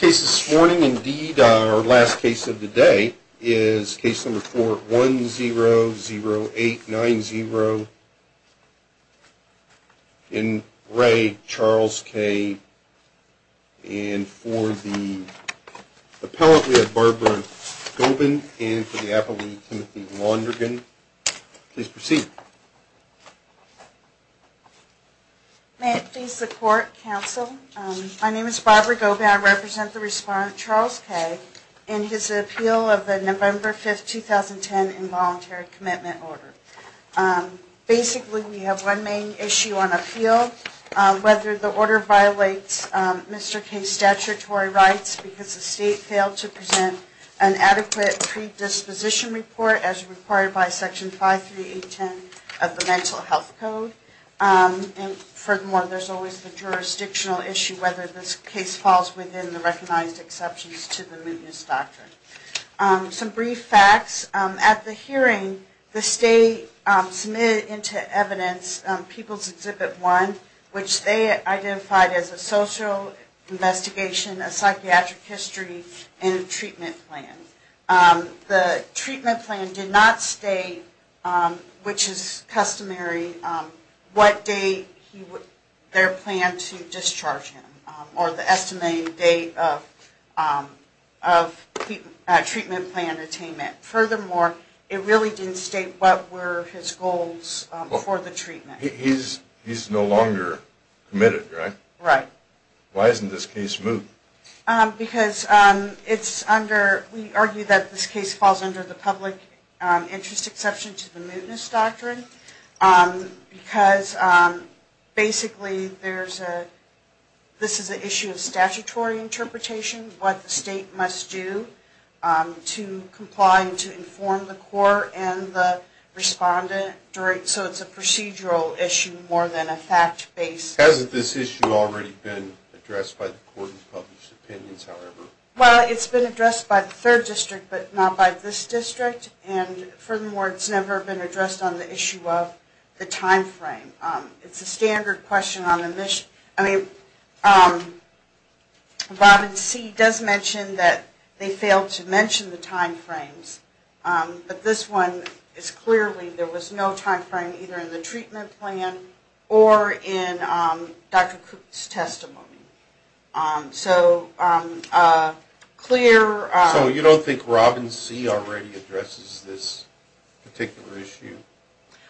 This morning indeed our last case of the day is case number four one zero zero eight nine zero. In re Charles K. And for the appellate we have Barbara Gobin and for the appellate we have Timothy Laundergan. Please proceed. May it please the court counsel my name is Barbara Gobin I represent the respondent Charles K. In his appeal of the November 5th 2010 involuntary commitment order. Basically we have one main issue on appeal whether the order violates Mr. K's statutory rights because the state failed to present an adequate predisposition report as required by section five three eight ten. Of the mental health code. And furthermore there's always the jurisdictional issue whether this case falls within the recognized exceptions to the Moody's doctrine. Some brief facts at the hearing the state submitted into evidence people's exhibit one. Which they identified as a social investigation a psychiatric history and treatment plan. The treatment plan did not state which is customary what day their plan to discharge him or the estimated date of treatment plan attainment. Furthermore it really didn't state what were his goals for the treatment. He's no longer committed right? Right. Why isn't this case moved? Because it's under we argue that this case falls under the public interest exception to the Moody's doctrine. Because basically there's a this is an issue of statutory interpretation what the state must do to comply to inform the court and the respondent. So it's a procedural issue more than a fact based. Hasn't this issue already been addressed by the court and published opinions however? Well it's been addressed by the third district but not by this district. And furthermore it's never been addressed on the issue of the time frame. It's a standard question on the mission. I mean Robin C does mention that they failed to mention the time frames. But this one is clearly there was no time frame either in the treatment plan or in Dr. Cook's testimony. So clear. So you don't think Robin C already addresses this particular issue?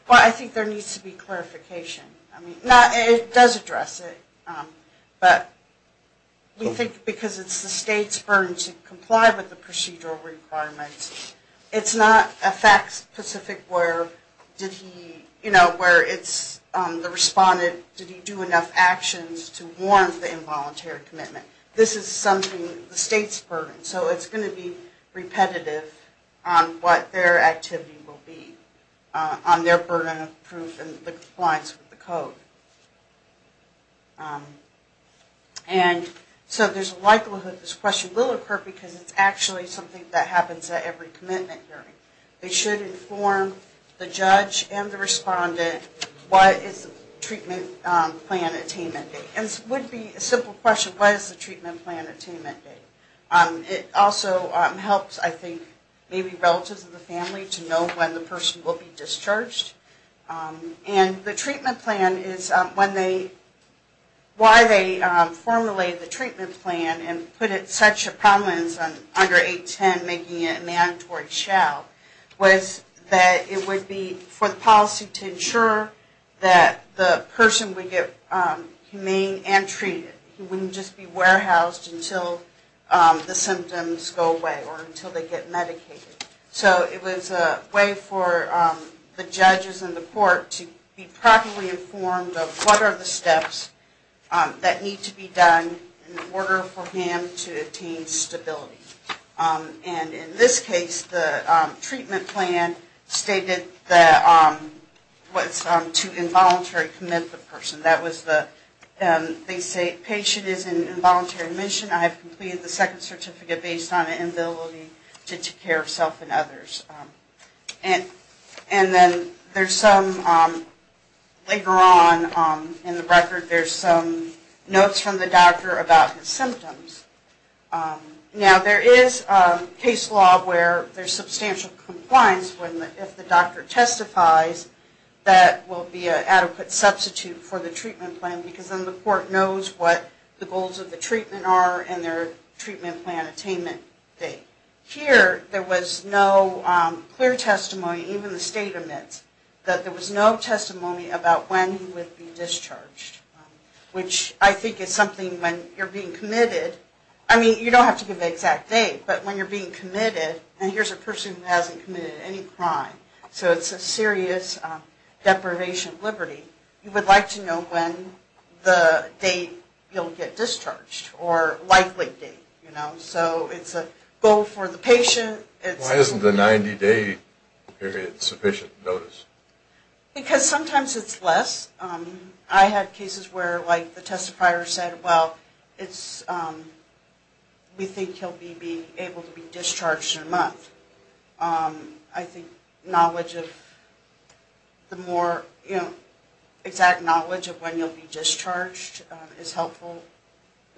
Well I think there needs to be clarification. I mean it does address it but we think because it's the state's burden to comply with the procedural requirements. It's not a fact specific where did he you know where it's the respondent, did he do enough actions to warrant the involuntary commitment? This is something the state's burden. So it's going to be repetitive on what their activity will be. On their burden of proof and the compliance with the code. And so there's a likelihood this question will occur because it's actually something that happens at every commitment hearing. They should inform the judge and the respondent what is the treatment plan attainment date. And it would be a simple question, what is the treatment plan attainment date? It also helps I think maybe relatives of the family to know when the person will be discharged. And the treatment plan is when they, why they formulated the treatment plan and put it such a prominence on under 810 making it a mandatory shall. Was that it would be for the policy to ensure that the person would get humane and treated. He wouldn't just be warehoused until the symptoms go away or until they get medicated. So it was a way for the judges and the court to be properly informed of what are the steps that need to be done in order for him to attain stability. And in this case, the treatment plan stated that was to involuntary commit the person. That was the, they say patient is in involuntary admission. I have completed the second certificate based on an ability to take care of self and others. And then there's some later on in the record, there's some notes from the doctor about his symptoms. Now there is case law where there's substantial compliance when if the doctor testifies that will be an adequate substitute for the treatment plan because then the court knows what the goals of the treatment are and their treatment plan attainment date. Here there was no clear testimony, even the state admits that there was no testimony about when he would be discharged, which I think is something when you're being committed. I mean, you don't have to give the exact date, but when you're being committed, and here's a person who hasn't committed any crime. So it's a serious deprivation of liberty. You would like to know when the date you'll get discharged or likely date, you know. So it's a goal for the patient. It's. Why isn't the 90-day period sufficient notice? Because sometimes it's less. I have cases where like the testifier said, well, it's, we think he'll be able to be discharged in a month. I think knowledge of the more, you know, exact knowledge of when you'll be discharged is helpful,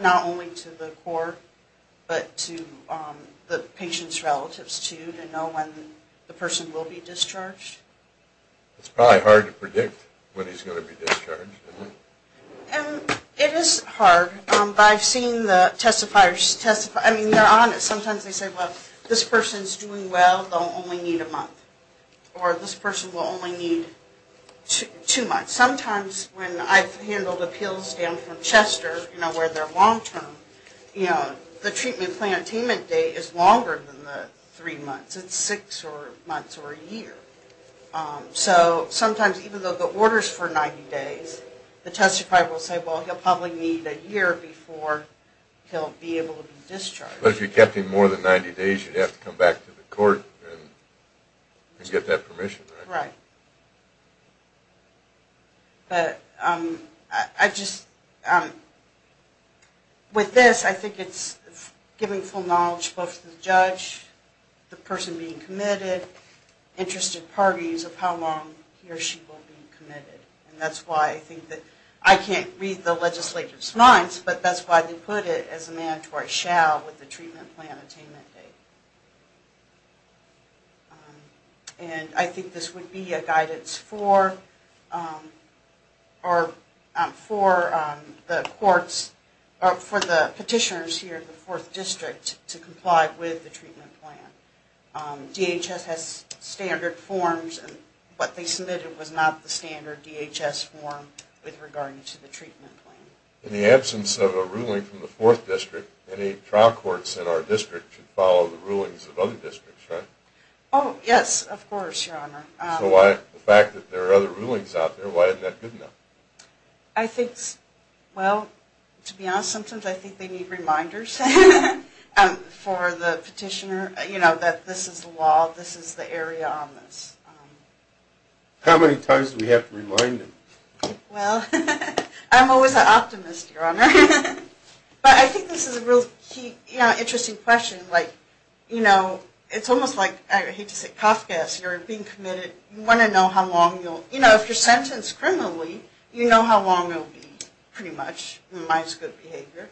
not only to the court, but to the patient's relatives too, to know when the person will be discharged. It's probably hard to predict when he's going to be discharged, isn't it? And it is hard, but I've seen the testifiers testify, I mean, they're honest. Sometimes they say, well, this person's doing well, they'll only need a month. Or this person will only need two months. Sometimes when I've handled appeals down from Chester, you know, where they're long-term, you know, the treatment plan attainment date is longer than the three months. It's six months or a year. So sometimes even though the order's for 90 days, the testifier will say, well, he'll probably need a year before he'll be able to be discharged. But if you kept him more than 90 days, you'd have to come back to the court and get that permission, right? Right. But I just, with this, I think it's giving full knowledge both to the judge, the person being committed, interested parties of how long he or she will be committed. And that's why I think that I can't read the legislator's minds, but that's why they put it as a mandatory shall with the treatment plan attainment date. And I think this would be a guidance for the courts, for the petitioners here at the Fourth District to comply with the treatment plan. DHS has standard forms, and what they submitted was not the standard DHS form with regard to the treatment plan. In the absence of a ruling from the Fourth District, any trial courts in our district should follow the rulings of other districts, right? Oh, yes, of course, Your Honor. So why, the fact that there are other rulings out there, why isn't that good enough? I think, well, to be honest, sometimes I think they need reminders for the petitioner, you know, that this is the law, this is the area on this. How many times do we have to remind them? Well, I'm always an optimist, Your Honor. But I think this is a real interesting question. Like, you know, it's almost like, I hate to say cough gas, you're being committed, you want to know how long you'll, you know, if you're sentenced criminally, you know how long you'll be, pretty much, it reminds good behavior.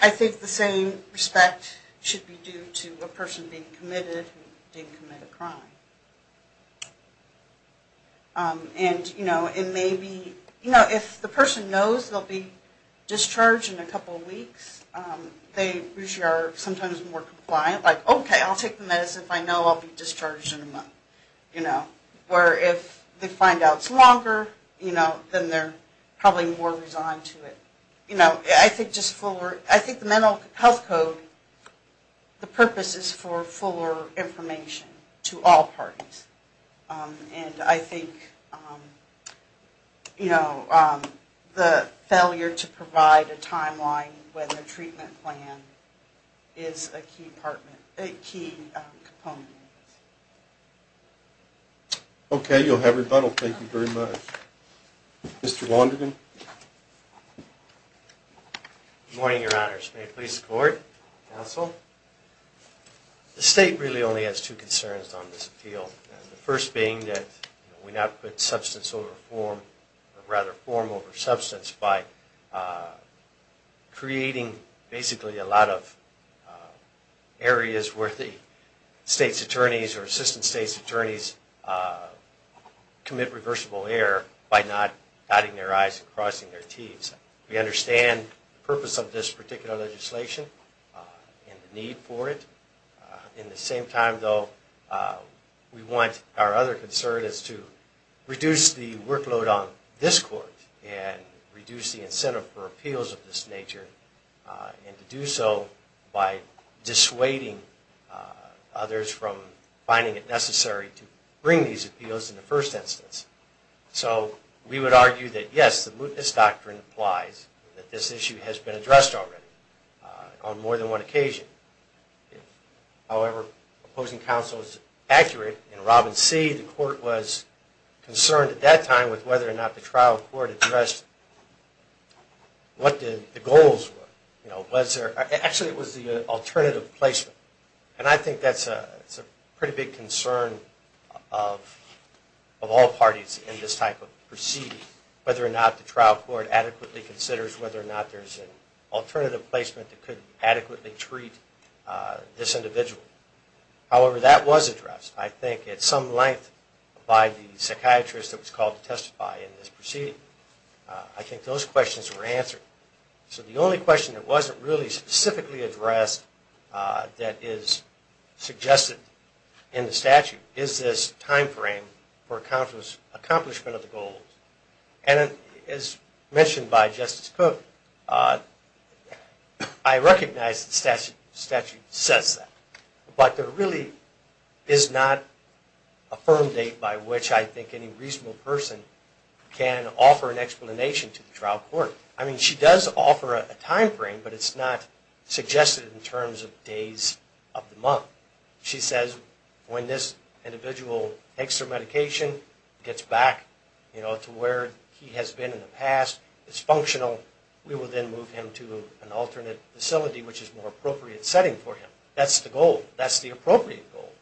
I think the same respect should be due to a person being committed who didn't commit a crime. And, you know, it may be, you know, if the person knows they'll be discharged in a couple of weeks, they usually are sometimes more compliant, like, okay, I'll take the medicine if I know I'll be discharged in a month, you know, or if they find out it's longer, you know, then they're probably more resigned to it. You know, I think just fuller, I think the mental health code, the purpose is for fuller information to all parties. And I think, you know, the failure to provide a timeline with a treatment plan is a key component. Okay, you'll have rebuttal. Thank you very much. Mr. Launderden. Good morning, Your Honors. May it please the Court, Counsel. The state really only has two concerns on this appeal. The first being that we not put substance over form, or rather form over substance by creating basically a lot of areas where the state's attorneys or assistant state's attorneys commit reversible error by not dotting their I's and crossing their T's. We understand the purpose of this particular legislation and the need for it. In the same time, though, we want our other concern is to reduce the workload on this Court and reduce the incentive for appeals of this nature, and to do so by dissuading others from finding it necessary to bring these appeals in the first instance. So we would argue that, yes, the mootness doctrine applies, that this issue has been addressed already on more than one occasion. However, opposing counsel is accurate. In Robin C., the Court was concerned at that time with whether or not the trial court addressed what the goals were. You know, was there, actually it was the alternative placement. And I think that's a pretty big concern of all parties in this type of proceeding, whether or not the trial court adequately considers whether or not there's an alternative placement that could adequately treat this individual. However, that was addressed, I think, at some length by the psychiatrist that was called to testify in this proceeding. I think those questions were answered. So the only question that wasn't really specifically addressed that is suggested in the statute is this time frame for accomplishment of the goals. And as mentioned by Justice Cook, I recognize the statute says that. But there really is not a firm date by which I think any reasonable person can offer an explanation to the trial court. I mean, she does offer a time frame, but it's not suggested in terms of days of the month. She says when this individual takes their medication, gets back, you know, to where he has been in the past, is functional, we will then move him to an alternate facility, which is more appropriate setting for him. That's the goal. That's the appropriate goal.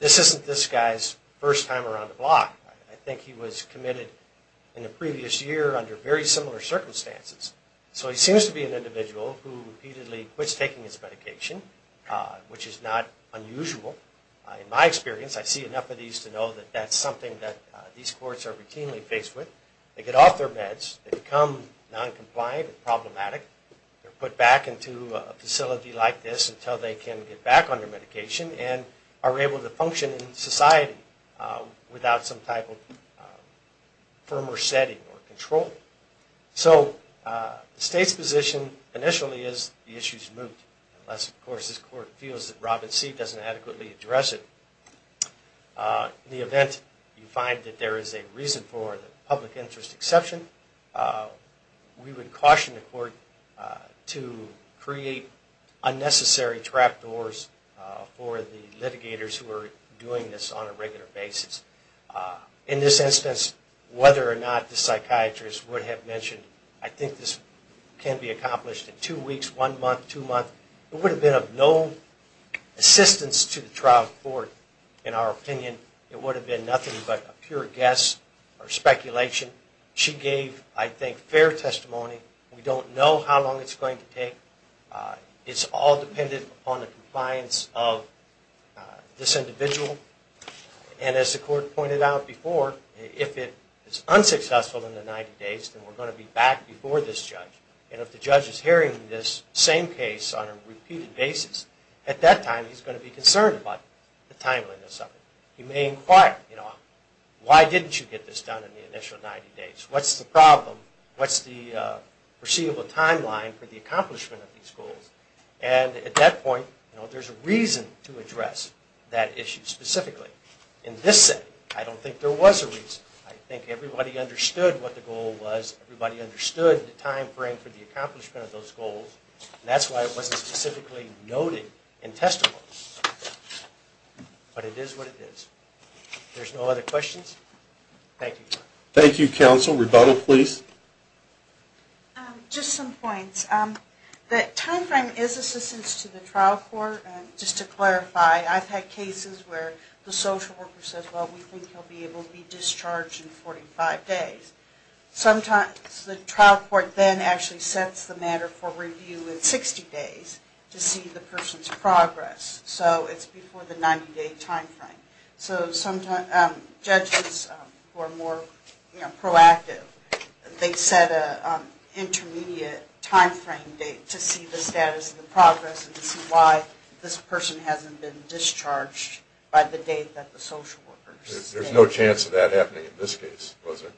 This isn't this guy's first time around the block. I think he was committed in the previous year under very similar circumstances. So he seems to be an individual who repeatedly quits taking his medication, which is not unusual. In my experience, I see enough of these to know that that's something that these courts are routinely faced with. They get off their meds. They become non-compliant and problematic. They're put back into a facility like this until they can get back on their medication and are able to function in society without some type of firmer setting or control. So the state's position initially is the issue is removed. Unless, of course, this court feels that Robin Seed doesn't adequately address it. In the event you find that there is a reason for the public interest exception, we would caution the court to create unnecessary trap doors for the litigators who are doing this on a regular basis. In this instance, whether or not the psychiatrist would have mentioned, I think this can be accomplished in two weeks, one month, two months. It would have been of no assistance to the trial court, in our opinion. It would have been nothing but a pure guess or speculation. She gave, I think, fair testimony. We don't know how long it's going to take. It's all dependent upon the compliance of this individual. And as the court pointed out before, if it is unsuccessful in the 90 days, then we're going to be back before this judge. And if the judge is hearing this same case on a repeated basis, at that time he's going to be concerned about the timeliness of it. He may inquire, you know, why didn't you get this done in the initial 90 days? What's the problem? What's the perceivable timeline for the accomplishment of these goals? And at that point, you know, there's a reason to address that issue specifically. In this setting, I don't think there was a reason. I think everybody understood what the goal was. Everybody understood the time frame for the accomplishment of those goals. That's why it wasn't specifically noted in testimony. But it is what it is. There's no other questions? Thank you. Thank you, counsel. Rebuttal, please. Just some points. The time frame is assistance to the trial court. Just to clarify, I've had cases where the social worker says, well, we think he'll be able to be discharged in 45 days. Sometimes the trial court then actually sets the matter for review in 60 days to see the person's progress. It's before the 90-day time frame. Judges who are more proactive, they set an intermediate time frame date to see the status of the progress and to see why this person hasn't been discharged by the date that the social worker says. There's no chance of that happening in this case, was there?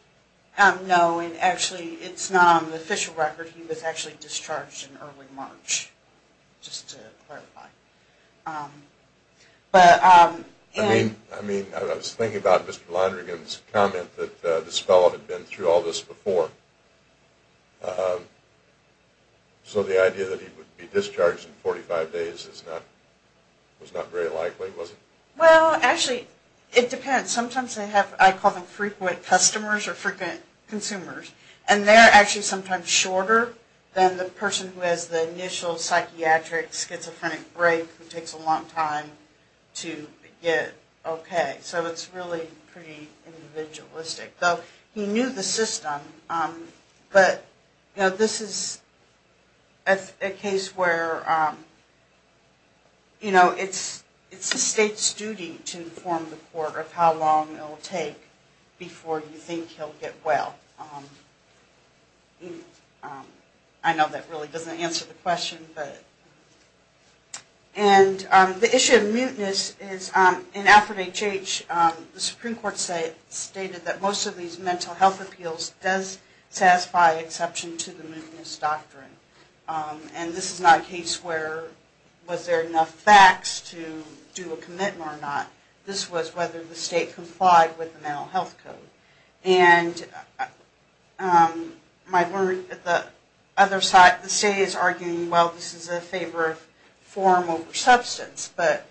No. Actually, it's not on the official record. He was actually discharged in early March, just to clarify. I mean, I was thinking about Mr. Lonergan's comment that this fellow had been through all this before. So the idea that he would be discharged in 45 days was not very likely, was it? Well, actually, it depends. Sometimes they have, I call them frequent customers or frequent consumers. And they're actually sometimes shorter than the person who has the initial psychiatric, schizophrenic break, who takes a long time to get okay. So it's really pretty individualistic. Though he knew the system. But this is a case where it's the state's duty to inform the court of how long it will take before you think he'll get well. I know that really doesn't answer the question, but. And the issue of muteness is in Alfred H.H., the Supreme Court stated that most of these mental health appeals does satisfy exception to the muteness doctrine. And this is not a case where was there enough facts to do a commitment or not. This was whether the state complied with the mental health code. And the state is arguing, well, this is a favor form over substance. But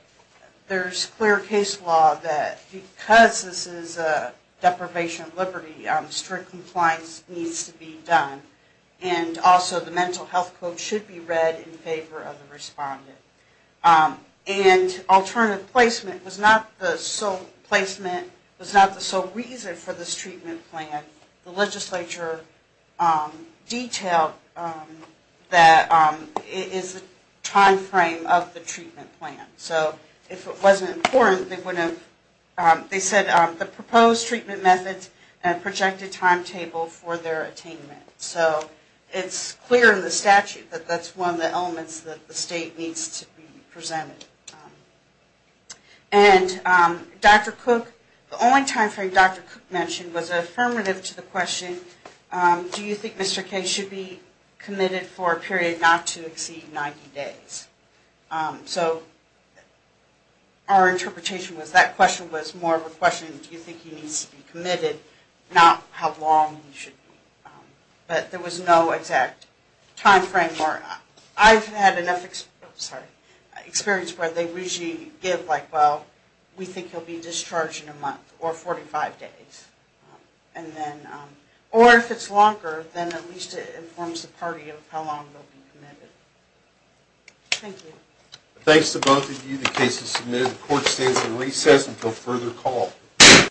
there's clear case law that because this is a deprivation of liberty, strict compliance needs to be done. And also, the mental health code should be read in favor of the respondent. And alternative placement was not the sole placement, was not the sole reason for this treatment plan. The legislature detailed that it is a time frame of the treatment plan. So if it wasn't important, they wouldn't have. They said the proposed treatment methods and projected timetable for their attainment. So it's clear in the statute that that's one of the elements that the state needs to be presented. And Dr. Cook, the only time frame Dr. Cook mentioned was affirmative to the question, do you think Mr. K should be committed for a period not to exceed 90 days? So our interpretation was that question was more of a question, do you think he needs to be committed, not how long he should be. But there was no exact time frame. I've had enough experience where they usually give like, well, we think he'll be discharged in a month or 45 days. Or if it's longer, then at least it informs the party of how long they'll be committed. Thank you. Thanks to both of you. The case is submitted. The court stands in recess until further call.